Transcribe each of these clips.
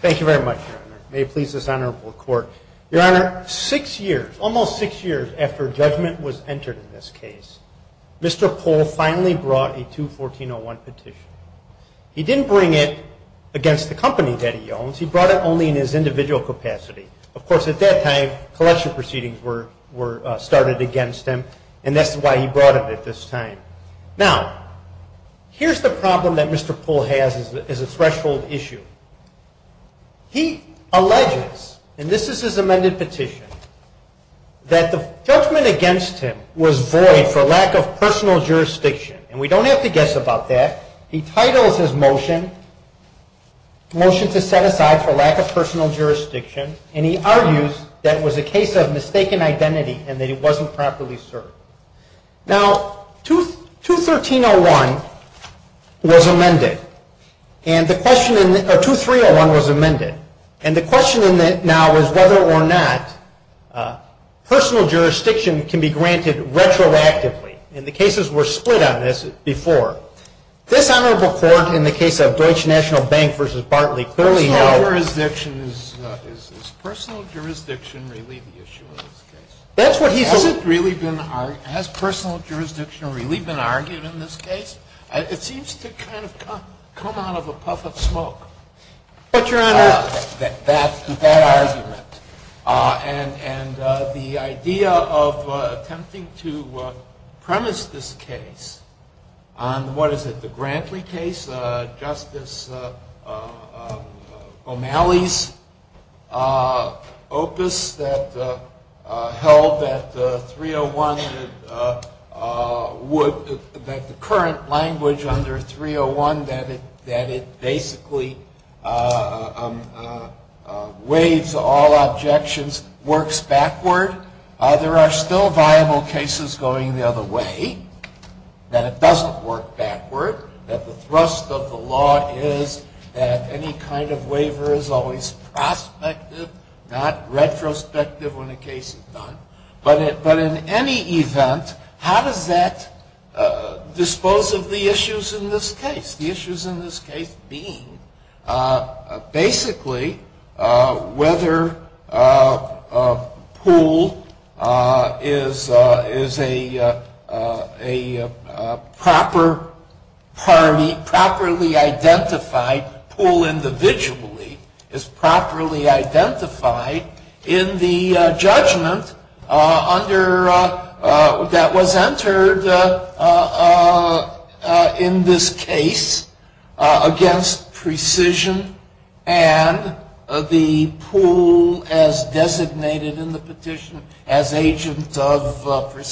Thank you very much, Your Honor. May it please the Senator for the Court. Your Honor, six years, almost six years after judgment was entered in this case, Mr. Poole finally brought a 214-01 petition. He didn't bring it against the company that he owns. He brought it only in his individual capacity. Of course, at that time, collection proceedings were started against him, and that's why he brought it at this time. Now, here's the problem that Mr. Poole has as a threshold issue. He alleges, and this is his amended petition, that the judgment against him was void for lack of personal jurisdiction. And we don't have to guess about that. He titles his motion, Motion to Set Aside for Lack of Personal Jurisdiction, and he argues that it was a case of mistaken identity and that it wasn't properly served. Now, 213-01 was amended, or 230-01 was amended, and the question now is whether or not personal jurisdiction can be granted retroactively. And the cases were split on this before. This Honorable Court, in the case of Deutsche National Bank v. Bartley, clearly held... Has personal jurisdiction really been argued in this case? It seems to kind of come out of a puff of smoke. But, Your Honor... That argument. And the idea of attempting to premise this case on, what is it, the Grantley case, Justice O'Malley's opus that held that the court had not been able to do a proper review, that the current language under 301, that it basically waives all objections, works backward. There are still viable cases going the other way, that it doesn't work backward, that the thrust of the law is that any kind of waiver is always prospective, not retrospective when a case is done. But in any event, how does that dispose of the issues in this case? The issues in this case being, basically, whether a pool is a proper party, properly identified, pool individually, is properly identified in the judgment that was entered in this case against precision and the pool as designated in the petition as agent of the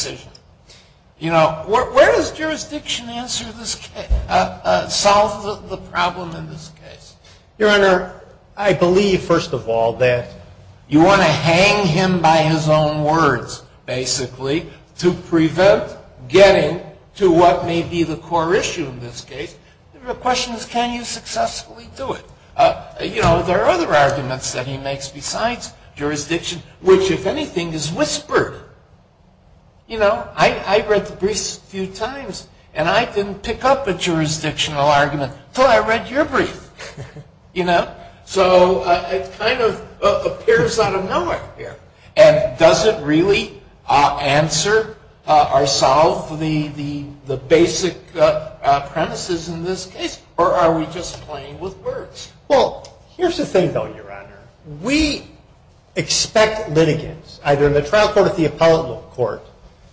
problem in this case. Your Honor, I believe, first of all, that you want to hang him by his own words, basically, to prevent getting to what may be the core issue in this case. The question is, can you successfully do it? You know, there are other arguments that he makes besides jurisdiction, which, if anything, is whispered. You know, I read the briefs a few times, and I didn't pick up a jurisdictional argument until I read your brief. You know? So it kind of appears out of nowhere here. And does it really answer or solve the basic premises in this case, or are we just playing with words? Well, here's the thing, though, Your Honor. We expect litigants, either in the trial court or the appellate court,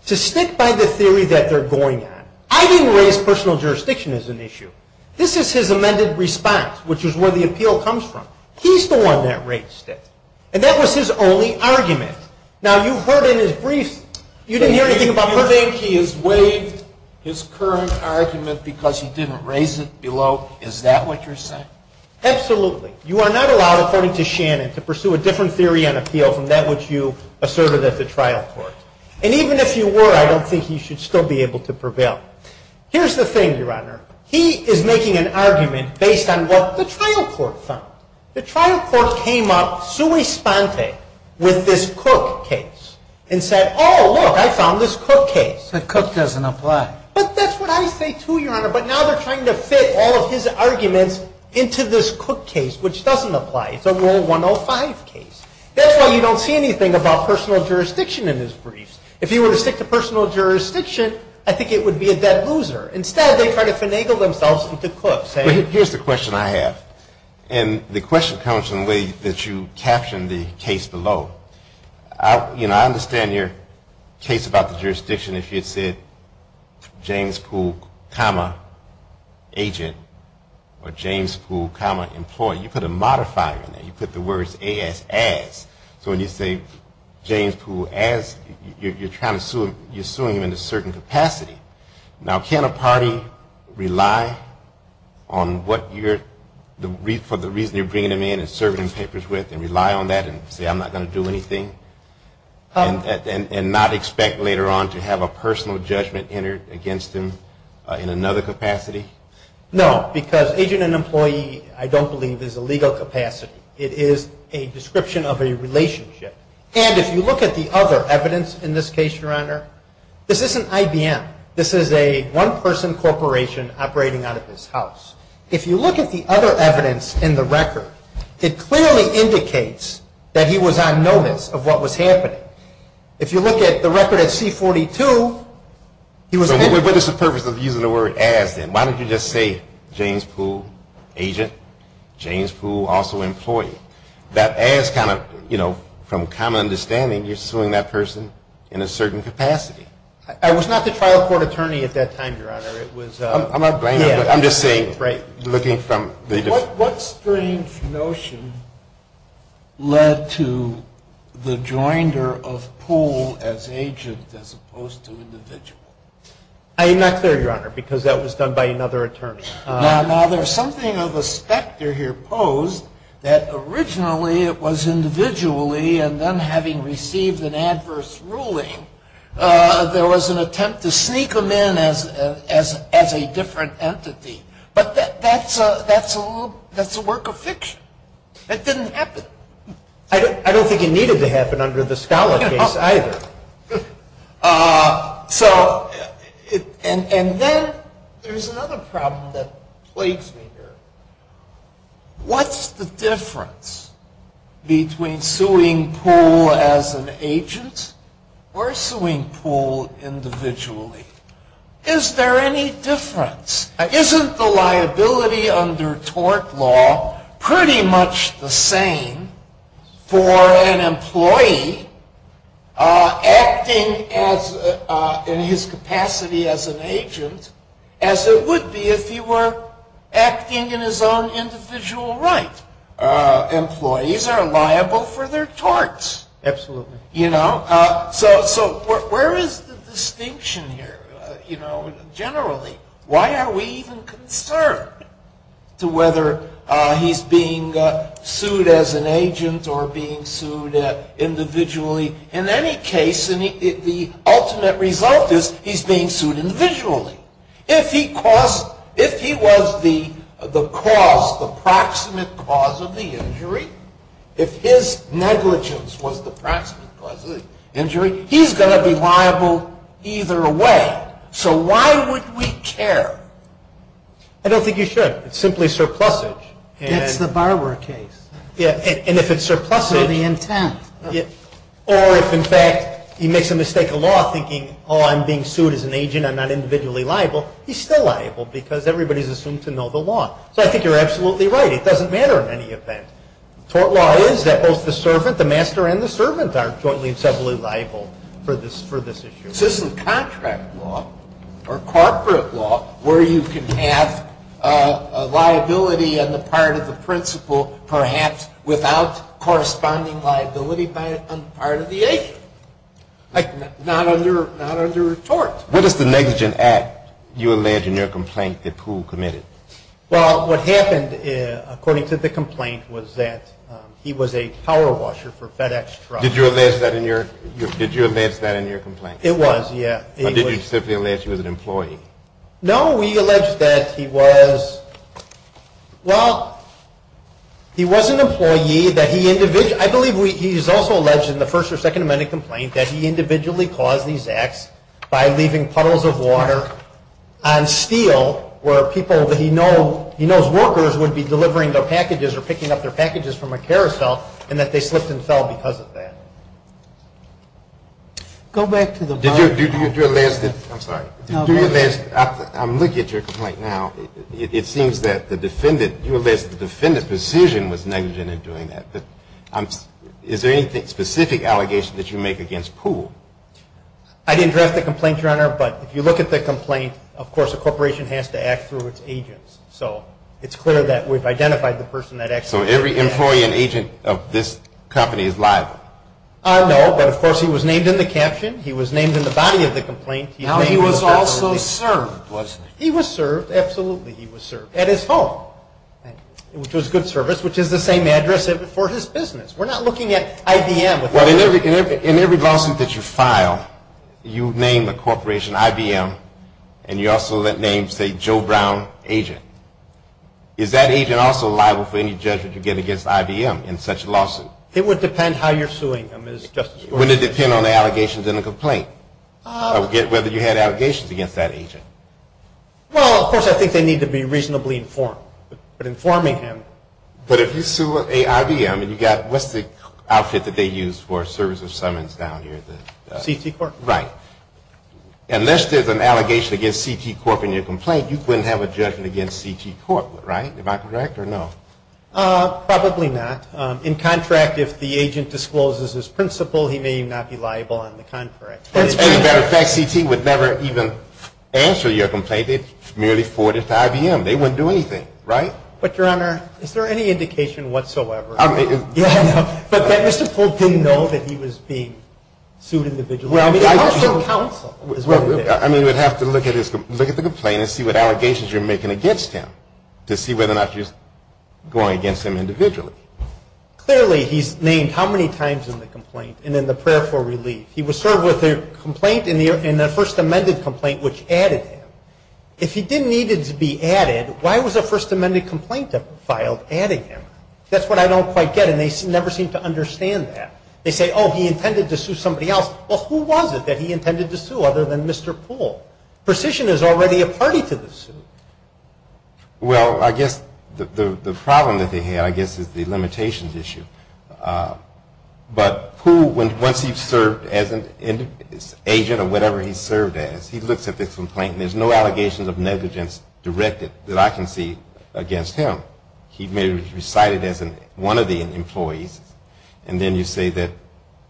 to stick by the theory that they're going at. I didn't raise personal jurisdiction as an issue. This is his amended response, which is where the appeal comes from. He's the one that raised it. And that was his only argument. Now, you heard in his briefs, you didn't hear anything about personal. You think he has waived his current argument because he didn't raise it below? Is that what you're saying? Absolutely. You are not allowed, according to Shannon, to pursue a different theory on appeal from that which you asserted at the trial court. And even if you were, I don't think he should still be able to prevail. Here's the thing, Your Honor. He is making an argument based on what the trial court found. The trial court came up, sui sponte, with this Cook case and said, oh, look, I found this Cook case. But Cook doesn't apply. But that's what I say, too, Your Honor. But now they're trying to fit all of his arguments into this Cook case, which doesn't apply. It's a Rule 105 case. That's why you don't see anything about personal jurisdiction in his briefs. If he were to stick to personal jurisdiction, I think it would be a dead loser. Instead, they try to finagle themselves with the Cooks. Here's the question I have. And the question comes from the way that you captioned the case below. I understand your case about the jurisdiction if you had said, James Poole, comma, agent, or James Poole, comma, employee. You put a modifier in there. You put the words AS, as. So when you say James Poole, as, you're suing him in a certain capacity. Now, can a party rely on what you're, for the reason you're bringing him in and serving him papers with, and rely on that and say, I'm not going to do anything? And not expect later on to have a personal judgment entered against him in another capacity? No, because agent and employee, I don't believe, is a legal capacity. It is a description of a relationship. And if you look at the other evidence in this case, Your Honor, this isn't IBM. This is a one-person corporation operating out of his house. If you look at the other evidence in the record, it clearly indicates that he was on notice of what was happening. If you look at the record at C-42, he was... What is the purpose of using the word as, then? Why don't you just say James Poole, agent, James Poole, also employee? That as kind of, you know, from common understanding, you're suing that person in a certain capacity. I was not the trial court attorney at that time, Your Honor. It was... I'm not blaming you. I'm just saying, looking from... What strange notion led to the joinder of Poole as agent as opposed to individual? I'm not clear, Your Honor, because that was done by another attorney. Now, there's something of a specter here posed that originally it was individually, and then having received an adverse ruling, there was an attempt to sneak him in as a different entity. But that's a work of fiction. That didn't happen. I don't think it needed to happen under the Scala case either. So, and then there's another problem that plagues me here. What's the difference between suing Poole as an agent or suing Poole individually? Is there any difference? Isn't the liability under tort law pretty much the same for an employee acting in his capacity as an agent as it would be if he were acting in his own individual right? Employees are liable for their torts. Absolutely. You know? So where is the distinction here, you know, generally? Why are we even concerned to whether he's being sued as an agent or not? Is he being sued as an agent or being sued individually? In any case, the ultimate result is he's being sued individually. If he caused, if he was the cause, the proximate cause of the injury, if his negligence was the proximate cause of the injury, he's going to be liable either way. So why would we care? I don't think you should. It's simply surplusage. That's the Barwer case. Yeah, and if it's surplusage. Or the intent. Or if, in fact, he makes a mistake of law thinking, oh, I'm being sued as an agent, I'm not individually liable, he's still liable because everybody's assumed to know the law. So I think you're absolutely right. It doesn't matter in any event. Tort law is that both the servant, the master and the servant are jointly and separately liable for this issue. This isn't contract law or corporate law where you can have a liability on the part of the principal perhaps without corresponding liability on the part of the agent. Like, not under tort. What is the negligent act you allege in your complaint that Poole committed? Well, what happened according to the complaint was that he was a power washer for FedEx Trucks. Did you allege that in your complaint? It was, yeah. Or did you simply allege he was an employee? No, we allege that he was, well, he was an employee that he individually, I believe he's also alleged in the First or Second Amendment complaint that he individually caused these acts by leaving puddles of water on steel where people that he knows, he knows workers would be delivering their packages or picking up their packages from a carousel and that they slipped and fell because of that. Go back to the bar. Did you, did you allege that, I'm sorry, did you allege, I'm looking at your complaint now, it seems that the defendant, you allege that the defendant's decision was negligent in doing that. Is there any specific allegation that you make against Poole? I didn't draft the complaint, Your Honor, but if you look at the complaint, of course a corporation has to act through its agents. So it's clear that we've identified the person that actually did it. So every employee and agent of this company is liable? No, but of course he was named in the caption, he was named in the body of the complaint. Now he was also served, wasn't he? He was served, absolutely he was served, at his home, which was good service, which is the same address for his business. We're not looking at IBM. Well, in every, in every, in every lawsuit that you file, you name the corporation IBM and you also name, say, Joe Brown agent. Is that agent also liable for any judgment you get against IBM in such a lawsuit? It would depend how you're suing him, Justice Breyer. Would it depend on the allegations in the complaint? Whether you had allegations against that agent? Well, of course I think they need to be reasonably informed. But informing him... But if you sue IBM and you got, what's the outfit that they use for service of summons down here? CT Corp? Right. Unless there's an allegation against CT Corp in your complaint, you couldn't have a judgment against CT Corp, right? Am I correct or no? Probably not. In contract, if the agent discloses his principal, he may not be liable on the contract. As a matter of fact, CT would never even answer your complaint. It merely forwarded to IBM. They wouldn't do anything, right? But, Your Honor, is there any indication whatsoever? Yeah, no. But that Mr. Polk didn't know that he was being sued individually? Well, I mean... Also counsel is what it is. I mean, you would have to look at the complaint and see what allegations you're making against him to see whether or not you're going against him individually. Clearly, he's named how many times in the complaint and in the prayer for relief. He was served with a complaint in the first amended complaint which added him. If he didn't need to be added, why was a first amended complaint filed adding him? That's what I don't quite get, and they never seem to understand that. They say, oh, he intended to sue somebody else. Well, who was it that he intended to sue other than Mr. Polk? Precision is already a party to the suit. Well, I guess the problem that they had, I guess, is the limitations issue. But Polk, once he's served as an agent or whatever he's served as, he looks at this complaint and there's no allegations of negligence directed that I can see against him. He may have been cited as one of the employees, and then you say that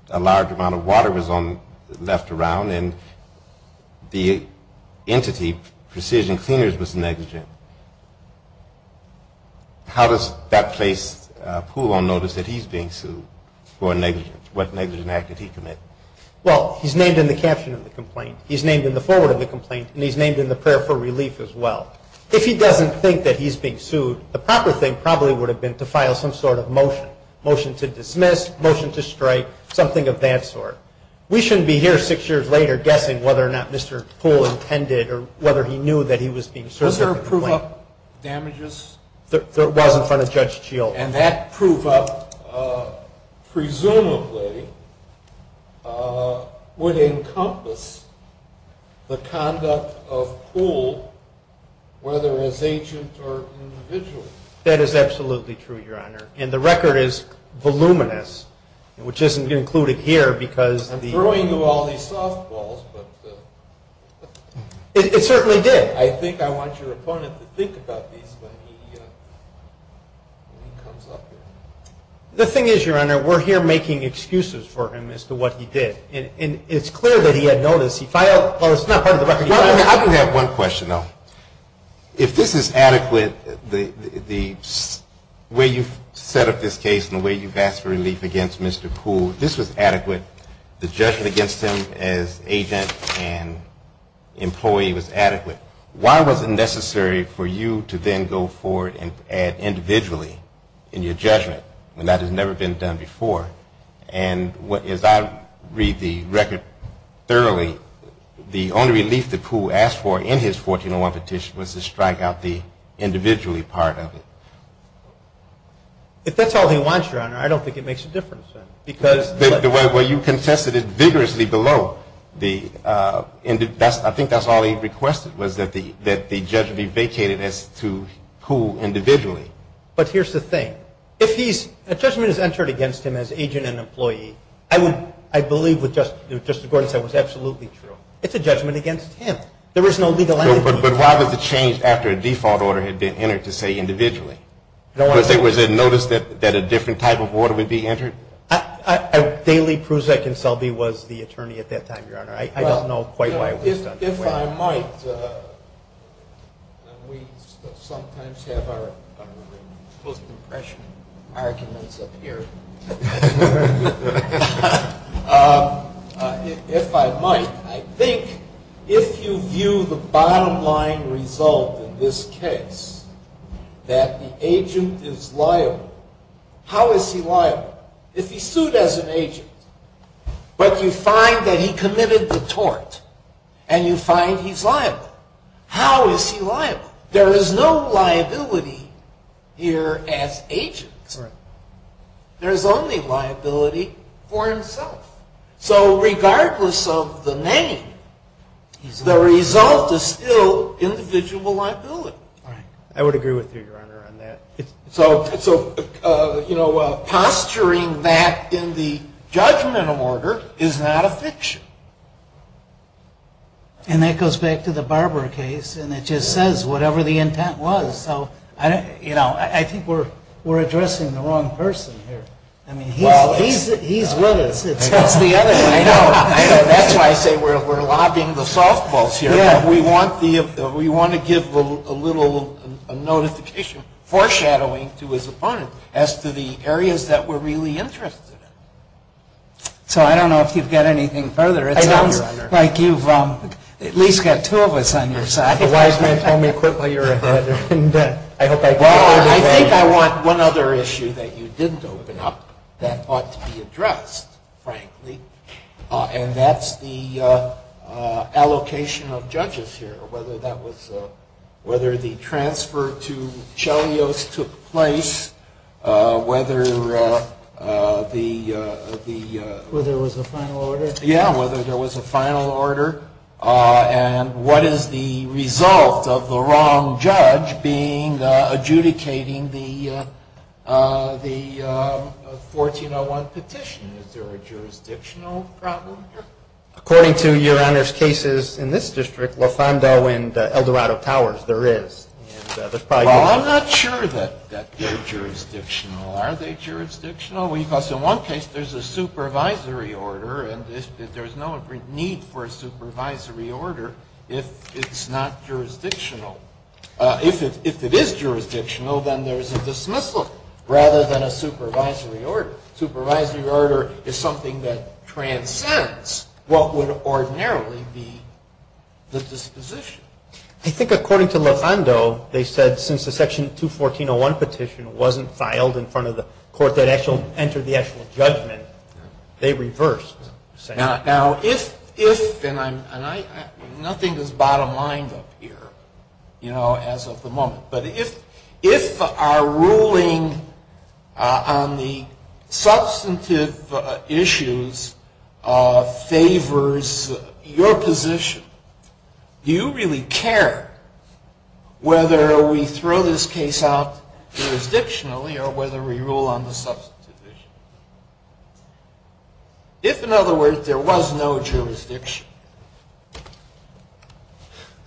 a large amount of water was left around and the entity, Precision Cleaners, was negligent. How does that place Poole on notice that he's being sued for negligence? What negligent act did he commit? Well, he's named in the caption of the complaint. He's named in the foreword of the complaint, and he's named in the prayer for relief as well. If he doesn't think that he's being sued, the proper thing probably would have been to file some sort of motion. Motion to dismiss, motion to strike, something of that sort. We shouldn't be here six years later guessing whether or not Mr. Poole intended or whether he knew that he was being sued for the complaint. Does there prove up damages? There was in front of Judge Shield. Whether as agent or individual. That is absolutely true, Your Honor. And the record is voluminous, which isn't included here because... I'm throwing you all these softballs, but... It certainly did. I think I want your opponent to think about these when he comes up here. The thing is, Your Honor, we're here making excuses for him as to what he did. And it's clear that he had notice. He filed, well, it's not part of the record. I do have one question, though. If this is adequate, the way you've set up this case and the way you've asked for relief against Mr. Poole, if this was adequate, the judgment against him as agent and employee was adequate, why was it necessary for you to then go forward and add individually in your judgment when that has never been done before? And as I read the record thoroughly, the only relief that Poole asked for in his 1401 petition was to strike out the individually part of it. If that's all he wants, Your Honor, I don't think it makes a difference. Because... The way you contested it vigorously below, I think that's all he requested, was that the judge be vacated as to Poole individually. But here's the thing. If a judgment is entered against him as agent and employee, I believe what Justice Gordon said was absolutely true. It's a judgment against him. There is no legal entity... But why was it changed after a default order had been entered to say individually? Because there was a notice that a different type of order would be entered? Daley, Prusak, and Selby was the attorney at that time, Your Honor. I don't know quite why it was done that way. If I might, and we sometimes have our post-impression arguments up here. If I might, I think if you view the bottom line result in this case, that the agent is liable, how is he liable? If he's sued as an agent, but you find that he committed the tort, and you find he's liable, how is he liable? There is no liability here as agent. There's only liability for himself. So regardless of the name, the result is still individual liability. I would agree with you, Your Honor, on that. So posturing that in the judgmental order is not a fiction. And that goes back to the Barber case, and it just says whatever the intent was. I think we're addressing the wrong person here. He's with us, it's just the other way around. That's why I say we're lobbing the softballs here. We want to give a little notification, foreshadowing to his opponent, as to the areas that we're really interested in. So I don't know if you've got anything further. I don't, Your Honor. It sounds like you've at least got two of us on your side. Why don't you tell me quickly, Your Honor. I think I want one other issue that you didn't open up, that ought to be addressed, frankly. And that's the allocation of judges here. Whether the transfer to Chelios took place, whether the... Whether there was a final order? Yeah, whether there was a final order, and what is the result of the wrong judge adjudicating the 1401 petition? Is there a jurisdictional problem here? According to Your Honor's cases in this district, Lafondo and Eldorado Towers, there is. Well, I'm not sure that they're jurisdictional. Are they jurisdictional? Because in one case, there's a supervisory order, and there's no need for a supervisory order if it's not jurisdictional. If it is jurisdictional, then there's a dismissal, rather than a supervisory order. Supervisory order is something that transcends what would ordinarily be the disposition. I think according to Lafondo, they said since the Section 214.01 petition wasn't filed in front of the court that actually entered the actual judgment, they reversed. Now, if... Nothing is bottom-lined up here, you know, as of the moment. But if our ruling on the substantive issues favors your position, do you really care whether we throw this case out jurisdictionally or whether we rule on the substantive issue? If, in other words, there was no jurisdiction.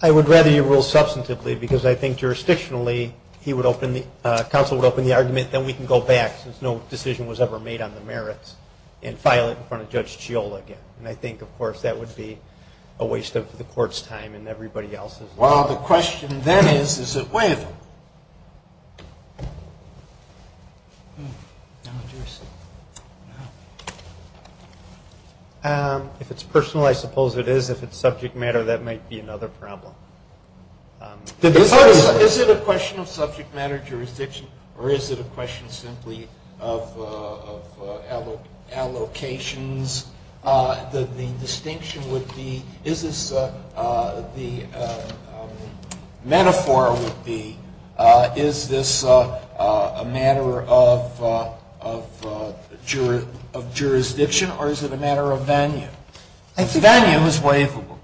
I would rather you rule substantively because I think jurisdictionally, he would open the... Counsel would open the argument, then we can go back since no decision was ever made on the merits, and file it in front of Judge Chiola again. And I think, of course, that would be a waste of the court's time and everybody else's. Well, the question then is, is it with? If it's personal, I suppose it is. If it's subject matter, that might be another problem. Is it a question of subject matter jurisdiction or is it a question simply of allocations? The distinction would be... The metaphor would be, is this a matter of jurisdiction or is it a matter of venue? If venue is waivable.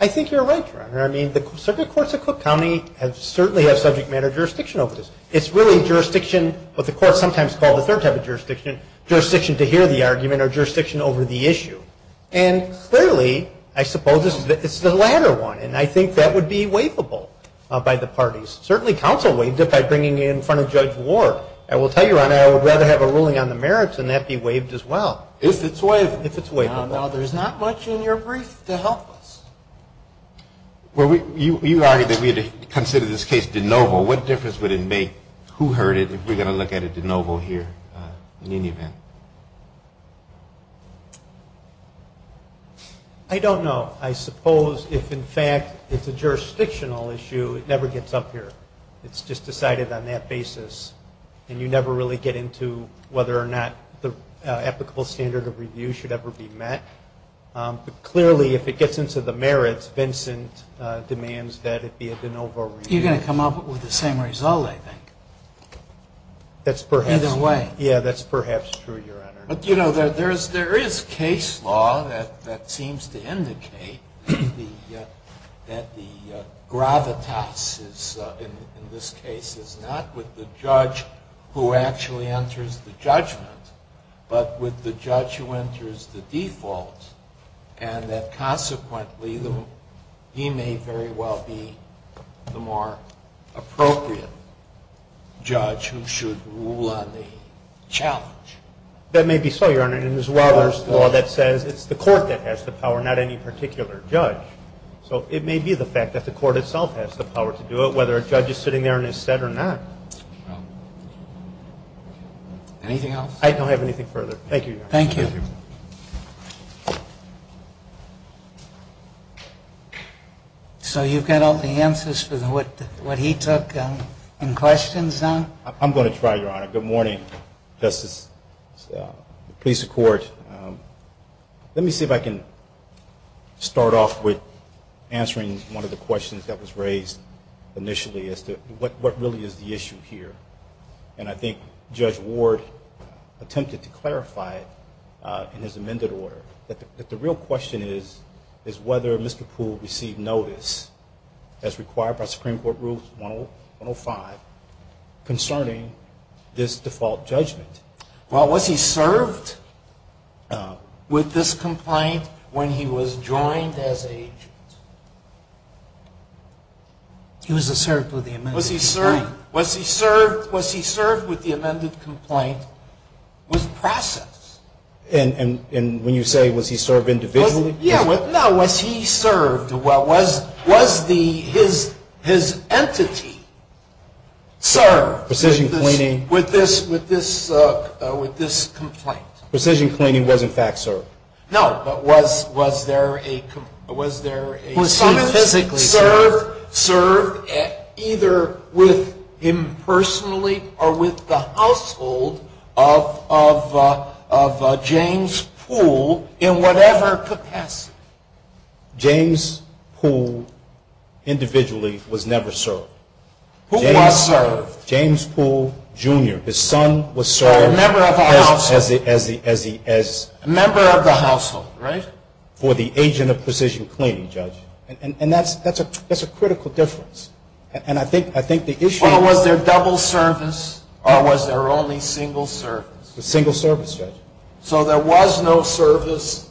I think you're right, Your Honor. I mean, the circuit courts of Cook County certainly have subject matter jurisdiction over this. It's really jurisdiction, what the courts sometimes call the third type of jurisdiction, jurisdiction to hear the argument or jurisdiction over the issue. And clearly, I suppose it's the latter one. And I think that would be waivable by the parties. Certainly, counsel waived it by bringing it in front of Judge Ward. I will tell you, Your Honor, I would rather have a ruling on the merits than that be waived as well. If it's waivable. If it's waivable. Now, there's not much in your brief to help us. You argued that we had to consider this case de novo. What difference would it make? Who heard it if we're going to look at it de novo here in any event? I don't know. I suppose if, in fact, it's a jurisdictional issue, it never gets up here. It's just decided on that basis. And you never really get into whether or not the applicable standard of review should ever be met. But clearly, if it gets into the merits, Vincent demands that it be a de novo review. You're going to come up with the same result, I think. That's perhaps... Either way. Yeah, that's perhaps true, Your Honor. There is case law that seems to indicate that the gravitas in this case is not with the judge who actually enters the judgment, but with the judge who enters the default, and that consequently, he may very well be the more appropriate judge who should rule on the challenge. That may be so, Your Honor. And there's a lot of law that says it's the court that has the power, not any particular judge. So it may be the fact that the court itself has the power to do it, whether a judge is sitting there and is set or not. Anything else? I don't have anything further. Thank you, Your Honor. Thank you. I'm going to try, Your Honor. Good morning, Justice, police and court. Let me see if I can start off with answering one of the questions that was raised initially as to what really is the issue here. And I think Judge Ward attempted to clarify it in his amended order. But the real question is, is whether Mr. Poole received notice as required by Supreme Court Rules 105 concerning this default judgment. Well, was he served with this complaint when he was joined as an agent? He was served with the amended complaint. Was he served with the amended complaint with process? And when you say, was he served individually? No, was he served, was the, his entity served with this complaint? Precision cleaning was in fact served. No, but was there a... Was he physically served? Served either with him personally or with the household of James Poole in whatever capacity. James Poole individually was never served. Who was served? James Poole Jr. His son was served as the... Member of the household, right? For the agent of precision cleaning, Judge. And that's a critical difference. And I think the issue... or was there only single service? Single service, Judge. So there was no service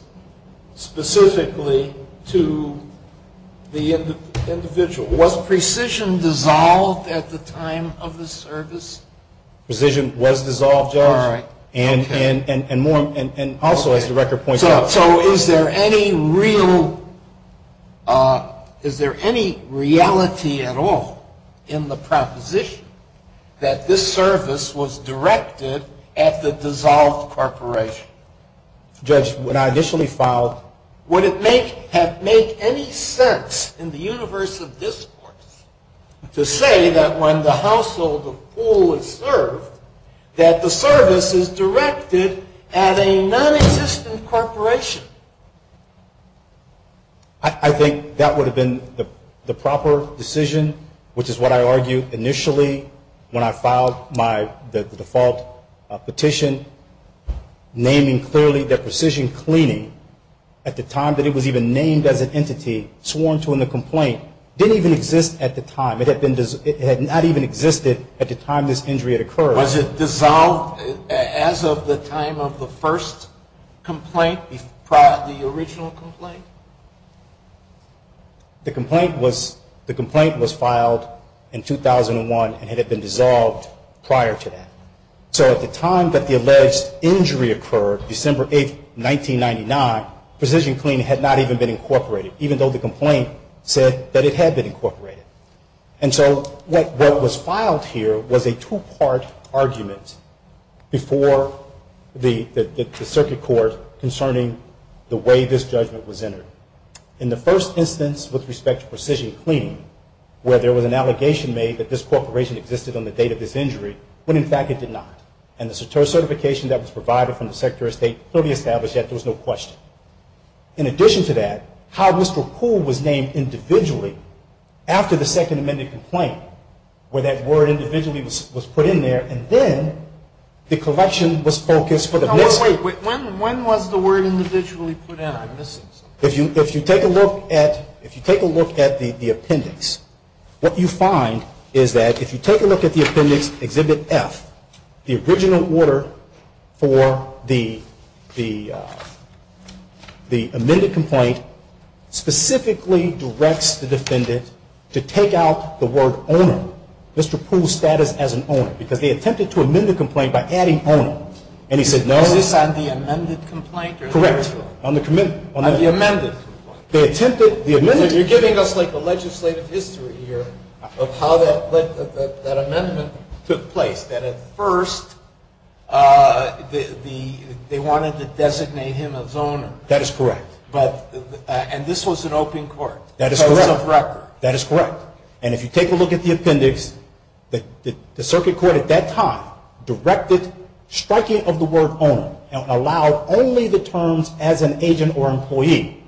specifically to the individual. Was precision dissolved at the time of the service? Precision was dissolved, Judge. And more... And also as the record points out... So is there any real... Is there any reality at all in the proposition that this service was directed at the dissolved corporation? Judge, when I initially filed... Would it make... have made any sense in the universe of discourse to say that when the household of Poole is served that the service is directed at a non-existent corporation? I think that would have been the proper decision, which is what I argued initially when I filed my... the default petition naming clearly that precision cleaning at the time that it was even named as an entity, sworn to in the complaint, didn't even exist at the time. It had not even existed at the time this injury had occurred. Was it dissolved as of the time of the first complaint prior to the original complaint? The complaint was... The complaint was filed in 2001 and had been dissolved prior to that. So at the time that the alleged injury occurred, December 8th, 1999, precision cleaning had not even been incorporated, even though the complaint said that it had been incorporated. And so what was filed here was a two-part argument before the circuit court concerning the way this judgment was entered. In the first instance, with respect to precision cleaning, where there was an allegation made that this corporation existed on the date of this injury, when in fact it did not. And the certification that was provided from the Secretary of State clearly established that there was no question. In addition to that, how Mr. Poole was named individually after the Second Amendment complaint where that word individually was put in there, and then the collection was focused for the next... When was the word individually put in? I'm missing something. If you take a look at the appendix, what you find is that if you take a look at the appendix, Exhibit F, the original order for the amended complaint specifically directs the defendant to take out the word owner. Mr. Poole's status as an owner because they attempted to amend the complaint by adding owner, and he said no. Is this on the amended complaint? Correct. You're giving us a legislative history here of how that amendment took place. At first they wanted to designate him as owner. And this was an open court. That is correct. And if you take a look at the appendix, the circuit court at that time directed striking of the word owner and allowed only the terms as an agent or employee.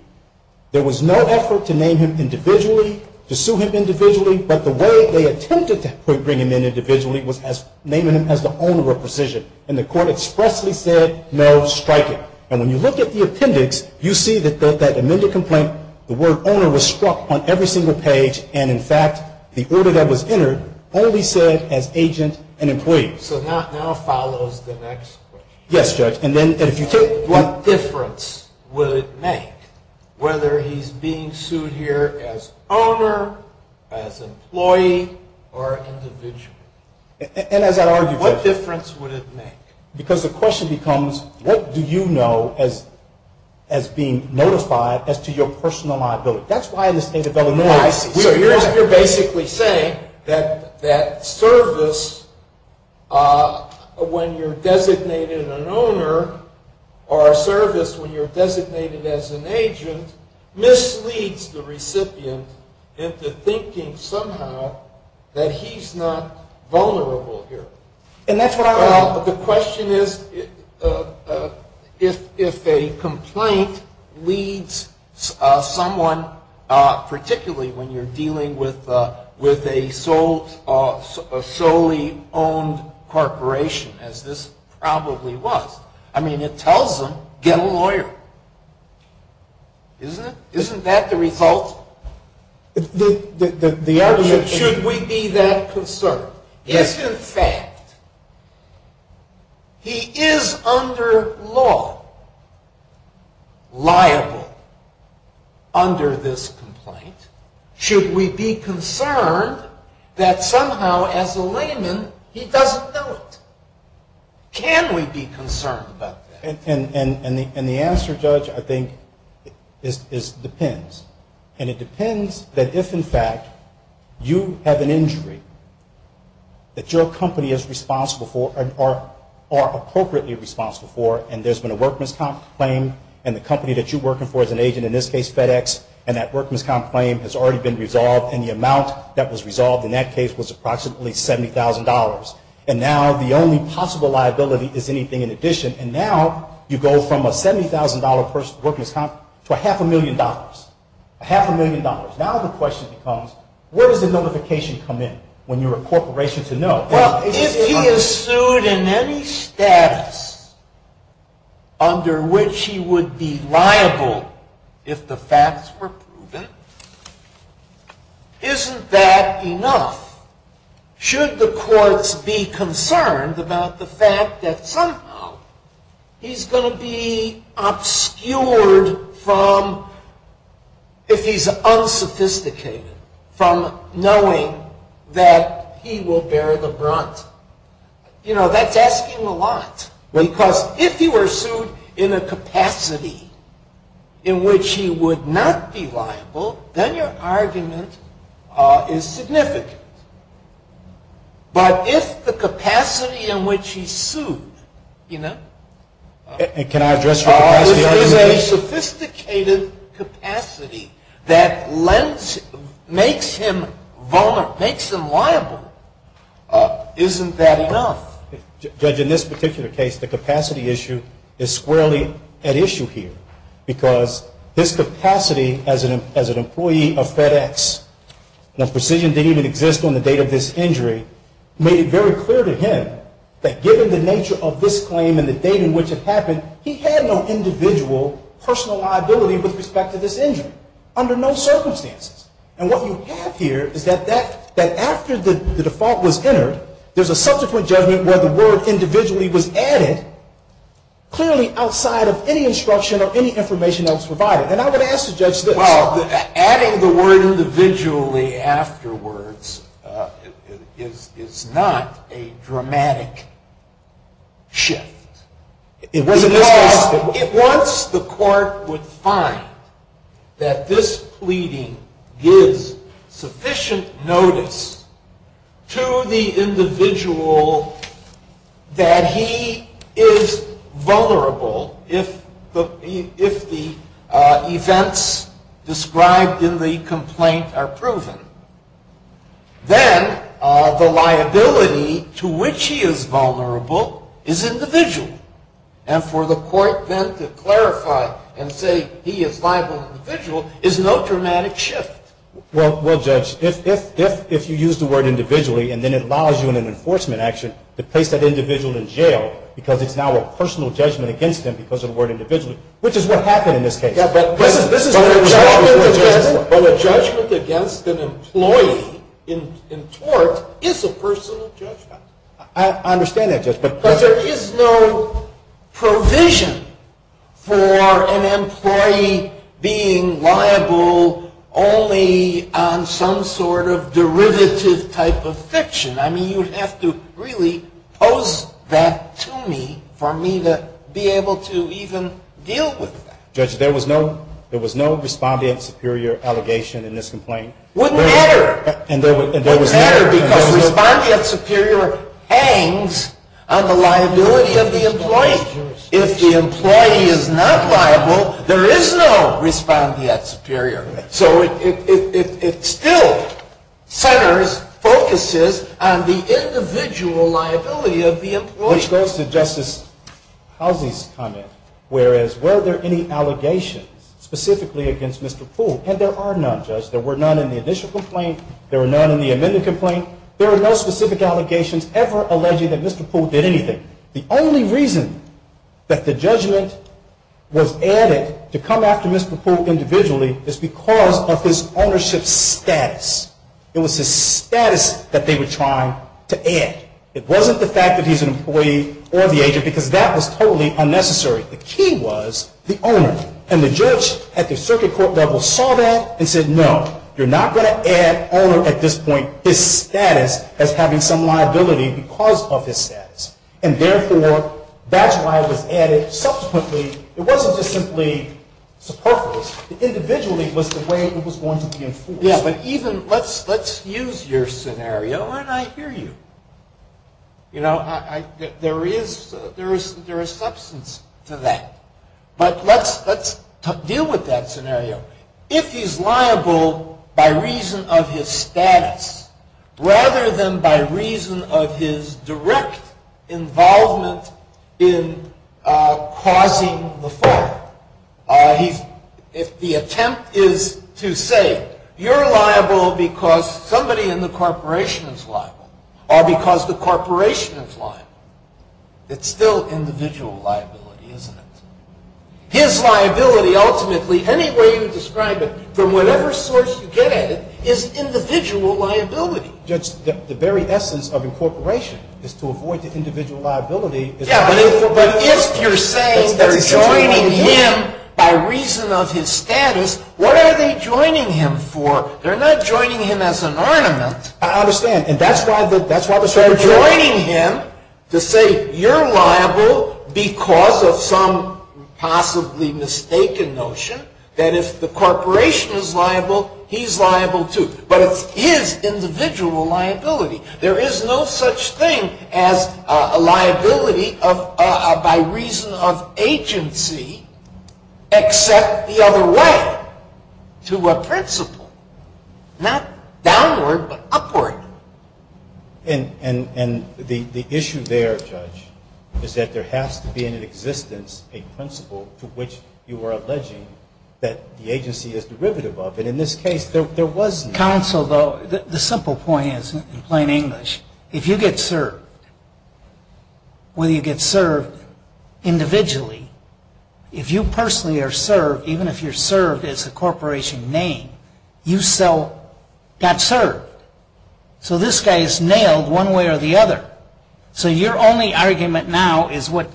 There was no effort to name him individually, to sue him individually, but the way they attempted to bring him in individually was naming him as the owner of Precision. And the court expressly said no striking. And when you look at the appendix, you see that that amended complaint, the word owner was struck on every single page and in fact the order that was entered only said as agent and employee. So that now follows the next question. Yes Judge. What difference would it make whether he's being sued here as owner, as employee, or individually? What difference would it make? Because the question becomes what do you know as being notified as to your personal liability? So you're basically saying that service when you're designated an owner or a service when you're designated as an agent misleads the recipient into thinking somehow that he's not vulnerable here. The question is if a complaint leads someone particularly when you're dealing with a solely owned corporation as this probably was. I mean it tells them get a lawyer. Isn't it? Isn't that the result? The argument is should we be that concerned? If in fact he is under law liable under this complaint, should we be concerned that somehow as a layman he doesn't know it? Can we be concerned about that? And the answer, Judge, I think depends. And it depends that if in fact you have an injury that your company is responsible for or appropriately responsible for and there's been a work misconduct claim and the company that you're working for is an agent, in this case FedEx and that work misconduct claim has already been resolved and the amount that was resolved in that case was approximately $70,000. And now the only possible liability is anything in addition. And now you go from a $70,000 work misconduct to a half a million dollars. A half a million dollars. Now the question becomes where does the notification come in when you're a corporation to know? If he is sued in any status under which he would be liable if the facts were proven, isn't that enough? Should the courts be concerned about the fact that somehow he's going to be obscured from if he's unsophisticated from knowing that he will bear the brunt? You know, that's asking a lot. Because if you were sued in a capacity in which he would not be liable, then your argument is significant. But if the capacity in which he's sued, you know, is a sophisticated capacity that makes him vulnerable, makes him liable, isn't that enough? Judge, in this particular case the capacity issue is squarely at issue here because his capacity as an employee of FedEx that precision didn't even exist on the date of this injury made it very clear to him that given the nature of this claim and the date in which it happened, he had no individual personal liability with respect to this injury under no circumstances. And what you have here is that after the default was entered, there's a subsequent judgment where the word individually was added clearly outside of any instruction or any information that was provided. And I would ask the judge this. Well, adding the word individually afterwards is not a dramatic shift. Because once the court would find that this pleading gives sufficient notice to the individual that he is vulnerable if the events described in the complaint are proven, then the liability to which he is vulnerable is individual. And for the court then to clarify and say he is liable individually is no dramatic shift. Well, Judge, if you use the word individually and then it allows you in an enforcement action to place that individual in jail because it's now a personal judgment against him because of the word individually, which is what happened in this case. But a judgment against an employee in tort is a personal judgment. I understand that, Judge. But there is no provision for an employee being liable only on some sort of derivative type of fiction. I mean, you'd have to really pose that to me for me to be able to even deal with that. Judge, there was no respondeat superior allegation in this complaint. It wouldn't matter because respondeat superior hangs on the liability of the employee. If the employee is not liable, there is no respondeat superior. So it still centers, focuses on the individual liability of the employee. Which goes to Justice Halsey's comment, whereas were there any allegations specifically against Mr. Poole? And there are none, Judge. There were none in the initial complaint. There were none in the amended complaint. There were no specific allegations ever alleging that Mr. Poole did anything. The only reason that the judgment was added to come after Mr. Poole individually is because of his status. It was his status that they were trying to add. It wasn't the fact that he's an employee or the agent because that was totally unnecessary. The key was the owner. And the judge at the circuit court level saw that and said, no, you're not going to add owner at this point his status as having some liability because of his status. And therefore that's why it was added subsequently. It wasn't just simply superfluous. Individually was the way it was going to be enforced. Let's use your scenario and I hear you. You know, there is substance to that. But let's deal with that scenario. If he's liable rather than by reason of his direct involvement in causing the fall. If the attempt is to say you're liable because somebody in the corporation is liable or because the corporation is liable, it's still individual liability, isn't it? His liability ultimately, any way you describe it from whatever source you get at it is individual liability. Judge, the very essence of incorporation is to avoid the individual liability Yeah, but if you're saying they're joining him by reason of his status, what are they joining him for? They're not joining him as an ornament. I understand. And that's why they're joining him to say you're liable because of some possibly mistaken notion that if the corporation is liable, he's liable too. But it's his individual liability. There is no such thing as a liability by reason of agency except the other way to a principle. Not downward, but upward. And the issue there, Judge, is that there has to be in existence a principle to which you are alleging that the agency is derivative of. And in this case, there was no Counsel, though, the simple point is in plain English, if you get served whether you get served individually, if you personally are served, even if you're served as a corporation name, you still got served. So this guy is nailed one way or the other. So your only argument now is what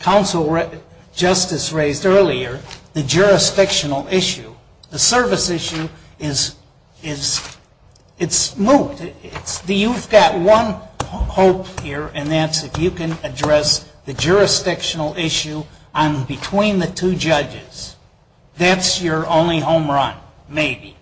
Counsel Justice raised earlier, the jurisdictional issue. The service issue is it's moot. You've got one hope here, and that's if you can address the jurisdictional issue between the two judges. That's your only home run, maybe.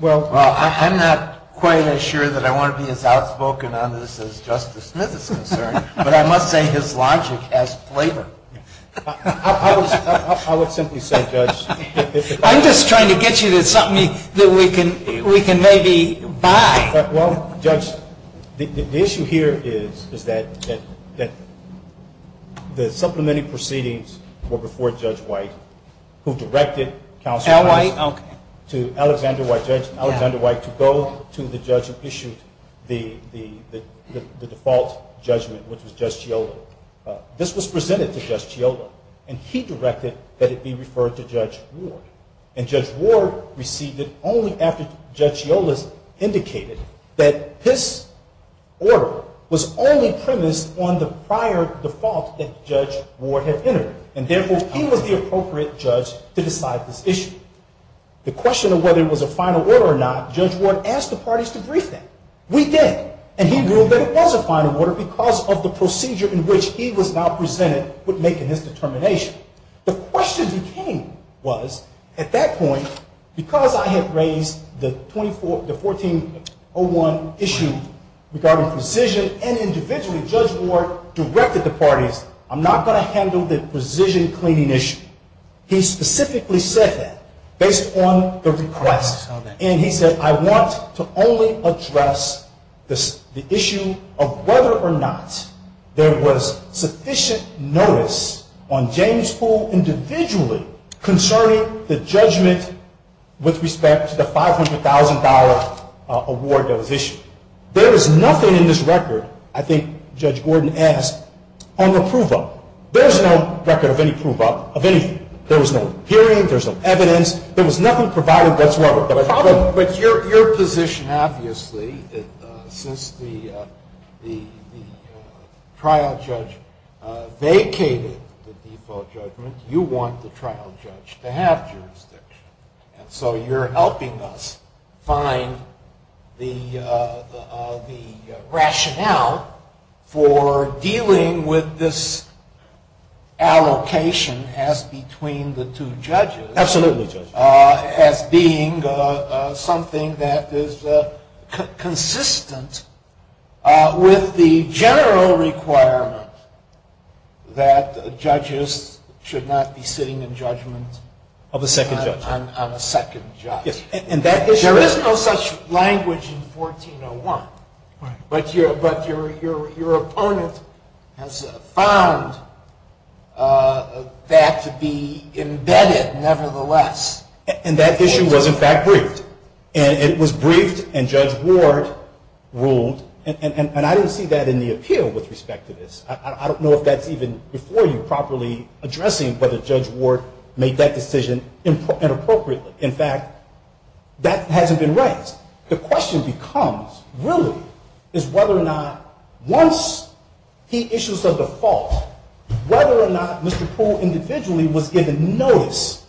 Well, I'm not quite sure that I want to be as outspoken on this as Justice Smith is concerned, but I must say his logic has flavor. I would simply say, Judge, I'm just trying to get you to something that we can maybe buy. Well, Judge, the issue here is that the supplementary proceedings were before Judge White, who directed Counsel to Alexander White to go to the judge who issued the default judgment, which was Judge Chiodo. This was presented to Judge Chiodo, and he directed that it be referred to Judge Ward. And Judge Ward received it only after Judge Chiodo indicated that his order was only premised on the prior default that Judge Ward had entered. And therefore, he was the appropriate judge to decide this issue. The question of whether it was a final order or not, Judge Ward asked the parties to brief him. We did, and he ruled that it was a final order because of the procedure in which he was now presented with making his determination. The question became, was, at that point, because I had raised the 1401 issue regarding precision and individually, Judge Ward directed the parties, I'm not going to handle the precision cleaning issue. He specifically said that based on the request. And he said, I want to only address the issue of whether or not there was sufficient notice on James Pool individually concerning the judgment with respect to the $500,000 award that was issued. There was nothing in this record, I think Judge Gordon asked, on the prove-up. There was no record of any prove-up of anything. There was no hearing, there was no evidence, there was nothing provided whatsoever. But your position, obviously, since the jury vacated the default judgment, you want the trial judge to have jurisdiction. And so you're helping us find the rationale for dealing with this allocation as between the two judges. Absolutely, Judge. As being something that is consistent with the general requirement that judges should not be sitting in judgment on a second judge. There is no such language in 1401, but your has found that to be embedded, nevertheless. And that issue was, in fact, briefed. And it was briefed, and Judge Ward ruled, and I didn't see that in the appeal with respect to this. I don't know if that's even before you properly addressing whether Judge Ward made that decision inappropriately. In fact, that hasn't been raised. The question becomes, really, is whether or not once he issues the default, whether or not Mr. Poole individually was given notice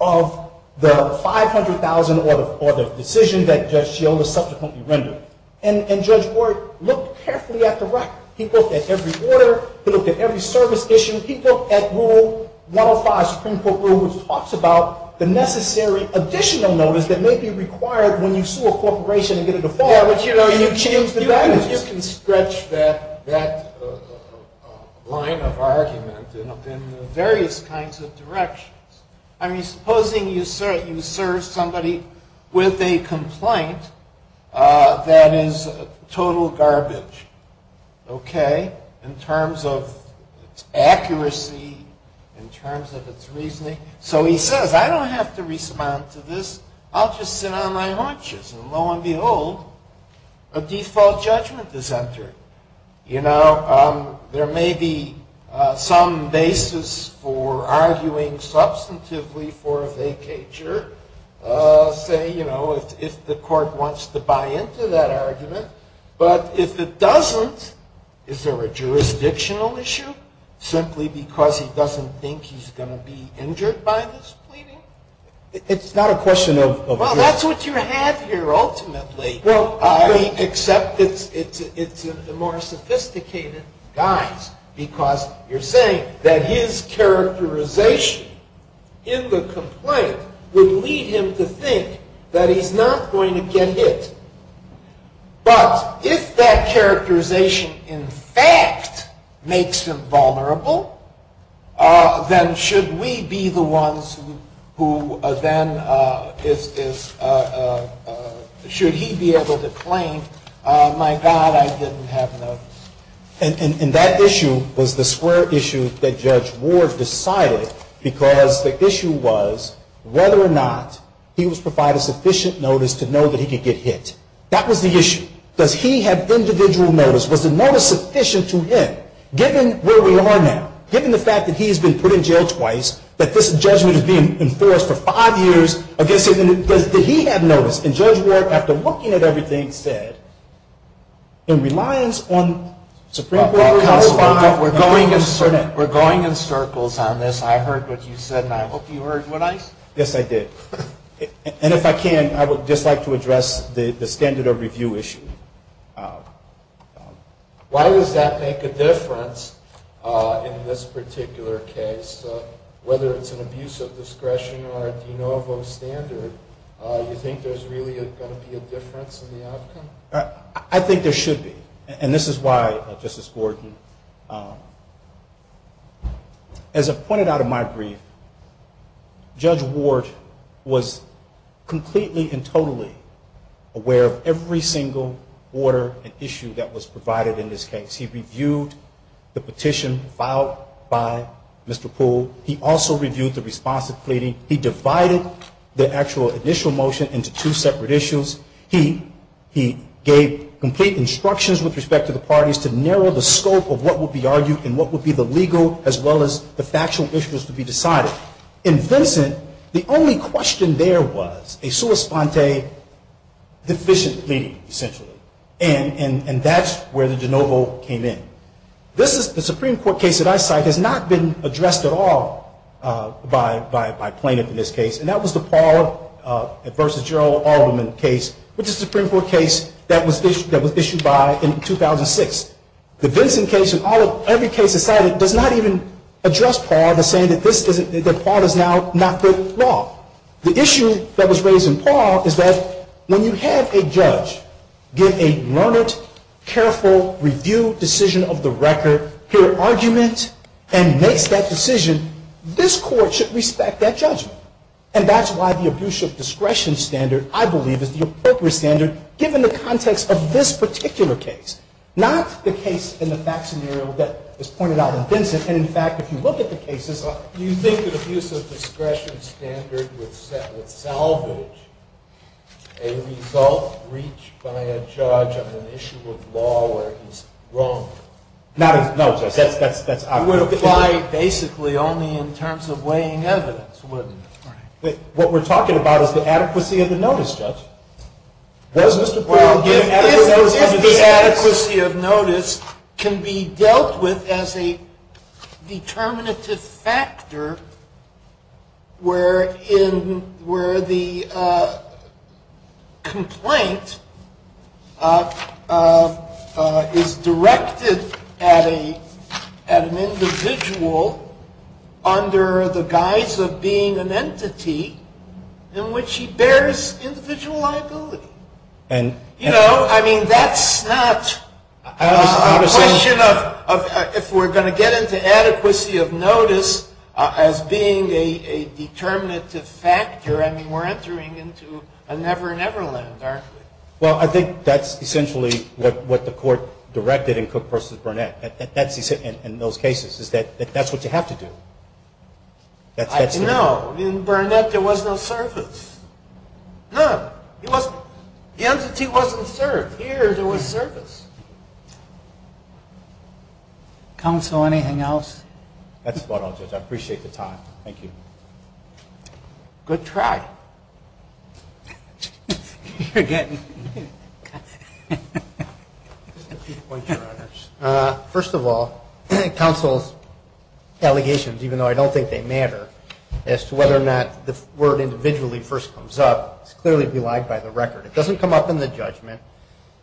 of the 500,000 or the decision that Judge Sciola subsequently rendered. And Judge Ward looked carefully at the record. He looked at every order. He looked at every service issue. He looked at Rule 105, Supreme Court Rule, which talks about the necessary additional notice that may be required when you sue a corporation and get a default. You can stretch that line of argument in various kinds of directions. I mean, supposing you serve somebody with a complaint that is total garbage, okay, in terms of accuracy, in terms of its reasoning. So he says, I don't have to respond to this. I'll just sit on my haunches. And lo and behold, a default judgment is entered. You know, there may be some basis for arguing substantively for a vacatur, say, you know, if the court wants to buy into that argument. But if it doesn't, is there a jurisdictional issue simply because he doesn't think he's going to be injured by this pleading? Well, that's what you have here, ultimately. Except it's a more sophisticated guise, because you're saying that his characterization in the complaint would lead him to think that he's not going to get hit. But if that characterization, in fact, makes him vulnerable, then should we be the ones who then is, should he be able to claim, my God, I didn't have enough. And that issue was the square issue that Judge Ward decided, because the issue was whether or not he was provided sufficient notice to know that he could get hit. That was the issue. Does he have individual notice? Was the notice sufficient to him? Given where we are now, given the fact that he's been put in jail twice, that this judgment is being enforced for five years against him, does he have notice? And Judge Ward, after looking at everything, said, in reliance on Supreme Court counsel, we're going in circles on this. I heard what you said and I hope you heard what I said. Yes, I did. And if I can, I would just like to address the standard of review issue. Why does that make a difference in this particular case? Whether it's an abuse of discretion or a de novo standard, you think there's really going to be a difference in the outcome? I think there should be. And this is why, Justice Gordon, as I've pointed out in my brief, Judge Ward was completely and totally aware of every single order and issue that was provided in this case. He reviewed the petition filed by Mr. Poole. He also reviewed the responsive pleading. He divided the actual initial motion into two separate issues. He gave complete instructions with respect to the parties to narrow the scope of what would be argued and what would be the legal as well as the factual issues to be decided. In Vincent, the only question there was a sua sponte deficient pleading, essentially. And that's where the de novo came in. The Supreme Court case that I cite has not been addressed at all by plaintiffs in this case. And that was the Paul v. Gerald Alderman case, which is a Supreme Court case that was issued by in 2006. The Vincent case and every case cited does not even address Paul in saying that Paul is now not good law. The issue that was raised in Paul is that when you have a judge give a learned, careful, reviewed decision of the record, hear argument, and makes that decision, this Court should respect that judgment. And that's why the Abuse of Discretion Standard, I believe, is the appropriate standard given the context of this particular case. Not the case in the fact scenario that was pointed out in Vincent. And in fact, if you look at the cases Do you think that Abuse of Discretion Standard would salvage a result reached by a judge on an issue of law where he's wrong? No, that's obvious. It would apply basically only in terms of weighing evidence, wouldn't it? What we're talking about is the adequacy of the notice, Judge. If the adequacy of notice can be dealt with as a determinative factor where the complaint is directed at an individual under the guise of being an entity in which he bears individual liability. You know, I mean, that's not a question of if we're going to get into adequacy of notice as being a determinative factor. I mean, we're entering into a never-never land, aren't we? Well, I think that's essentially what the Court directed in Cook v. Burnett. In those cases, that's what you have to do. No. In Burnett, there was no service. None. The entity wasn't served. Here, there was service. Counsel, anything else? That's about all, Judge. I appreciate the time. Thank you. Good try. First of all, counsel's allegations, even though I don't think they matter, as to whether or not the word individually first comes up, it's clearly belied by the record. It doesn't come up in the judgment.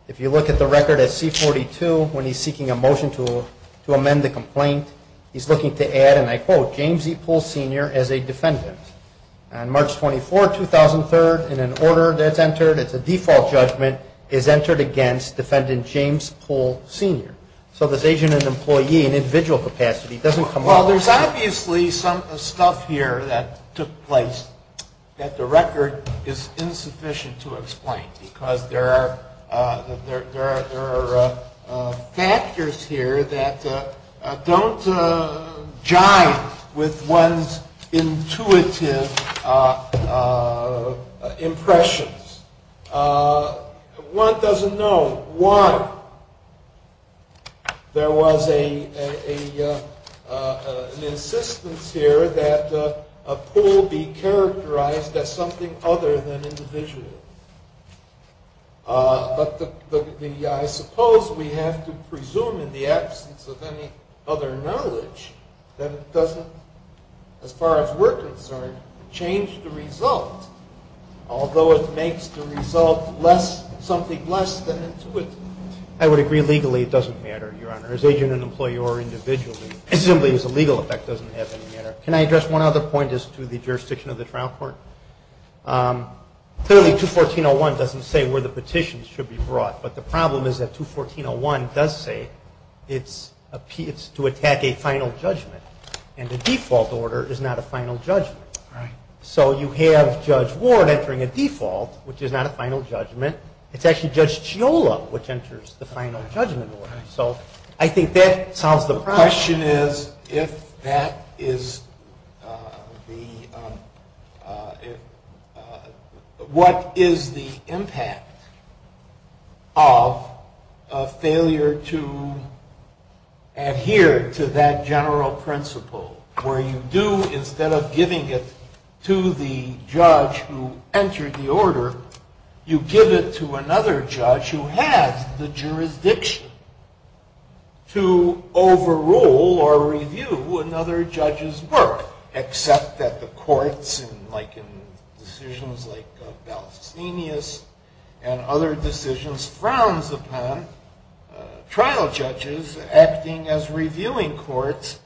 If you look at the record at C-42, when he's seeking a motion to amend the complaint, he's looking to add, and I quote, James E. Poole Sr. as a defendant. On March 24, 2012, he said, that the motion to amend C-43, in an order that's entered, it's a default judgment, is entered against defendant James Poole Sr. So this agent and employee, in individual capacity, doesn't come up. Well, there's obviously some stuff here that took place that the record is insufficient to explain because there are factors here that don't jive with one's intuitive impressions. One doesn't know why there was an insistence here that Poole be characterized as something other than individual. But I suppose we have to presume in the absence of any other knowledge, that it doesn't, as far as we're concerned, change the result, although it makes the result less, something less than intuitive. I would agree, legally it doesn't matter, Your Honor, as agent and employee or individually, as simply as a legal effect doesn't have any matter. Can I address one other point as to the jurisdiction of the trial court? Clearly, 214.01 doesn't say where the petitions should be brought, but the problem is that 214.01 does say it's to attack a final judgment, and the default order is not a final judgment. So you have Judge Ward entering a default, which is not a final judgment. It's actually Judge Chiola which enters the final judgment order. So I think that solves the problem. The question is, if that is the, what is the impact of a failure to adhere to that general principle, where you do, instead of giving it to the judge who entered the order, you give it to another judge who has the jurisdiction to overrule or review another judge's work, except that the courts, like in decisions like Balestinius and other decisions, frowns upon trial judges acting as reviewing courts,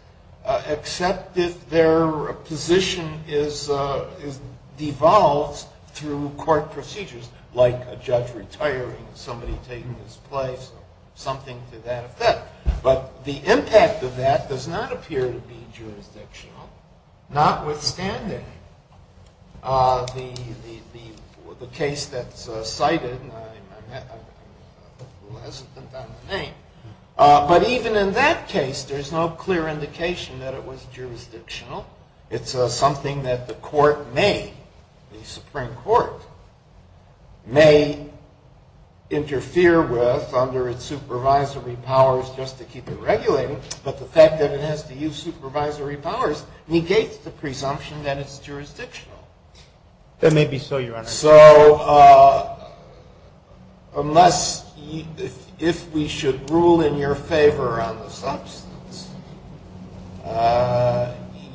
except if their position is devolved through court procedures, like a judge retiring, somebody taking his place, something to that effect. But the impact of that does not appear to be jurisdictional, notwithstanding the case that's cited, and I'm hesitant on the name, but even in that case, there's no clear indication that it was jurisdictional. It's something that the court may, the Supreme Court, may interfere with under its supervisory powers just to keep it regulated, but the fact that it has to use supervisory powers negates the presumption that it's jurisdictional. That may be so, Your Honor. So, unless, if we should rule in your favor on the substance,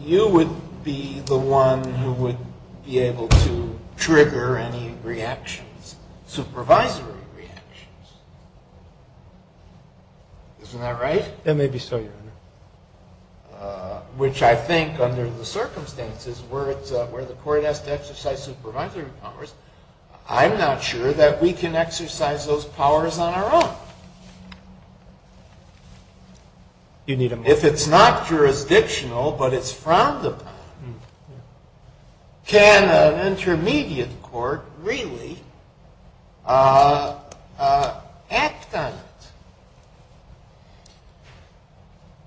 you would be the one who would be able to trigger any reactions, supervisory reactions. Isn't that right? That may be so, Your Honor. Which I think, under the circumstances where the court has to exercise supervisory powers, I'm not sure that we can exercise those powers on our own. If it's not jurisdictional, but it's frowned upon, can an intermediate court really act on it?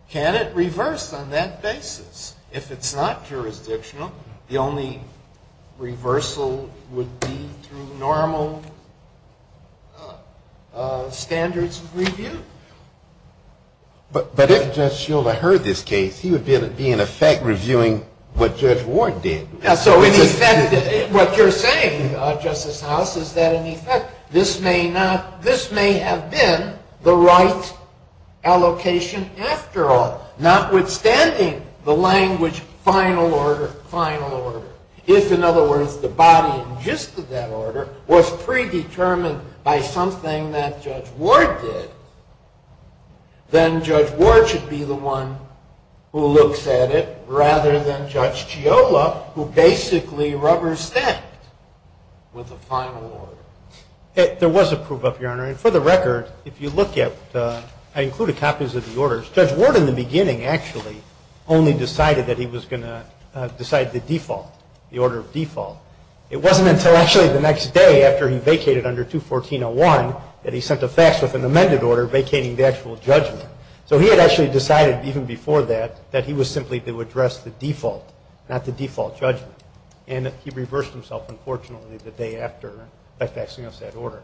Can it reverse on that basis if it's not jurisdictional? The only reversal would be through normal standards of review. But if Judge Shilder heard this case, he would be in effect reviewing what Judge Ward did. So, in effect, what you're saying, Justice House, is that in effect this may not, this may have been the right allocation after all, notwithstanding the language final order, final order. If, in other words, the body and gist of that order was predetermined by something that Judge Ward did, then Judge Ward should be the one who looks at it, rather than Judge Giola, who basically rubber-stepped with the final order. There was a proof of, Your Honor, and for the record, if you look at, I included copies of the orders, Judge Ward in the beginning actually only decided that he was going to decide the default, the order of default. It wasn't until actually the next day after he vacated under 214.01 that he sent a fax with an amended order vacating the actual judgment. So he had actually decided even before that that he was simply to address the default, not the default judgment. And he reversed himself, unfortunately, the day after by faxing us that order.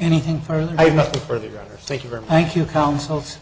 Anything further? I have nothing further, Your Honor. Thank you very much. Thank you, counsels.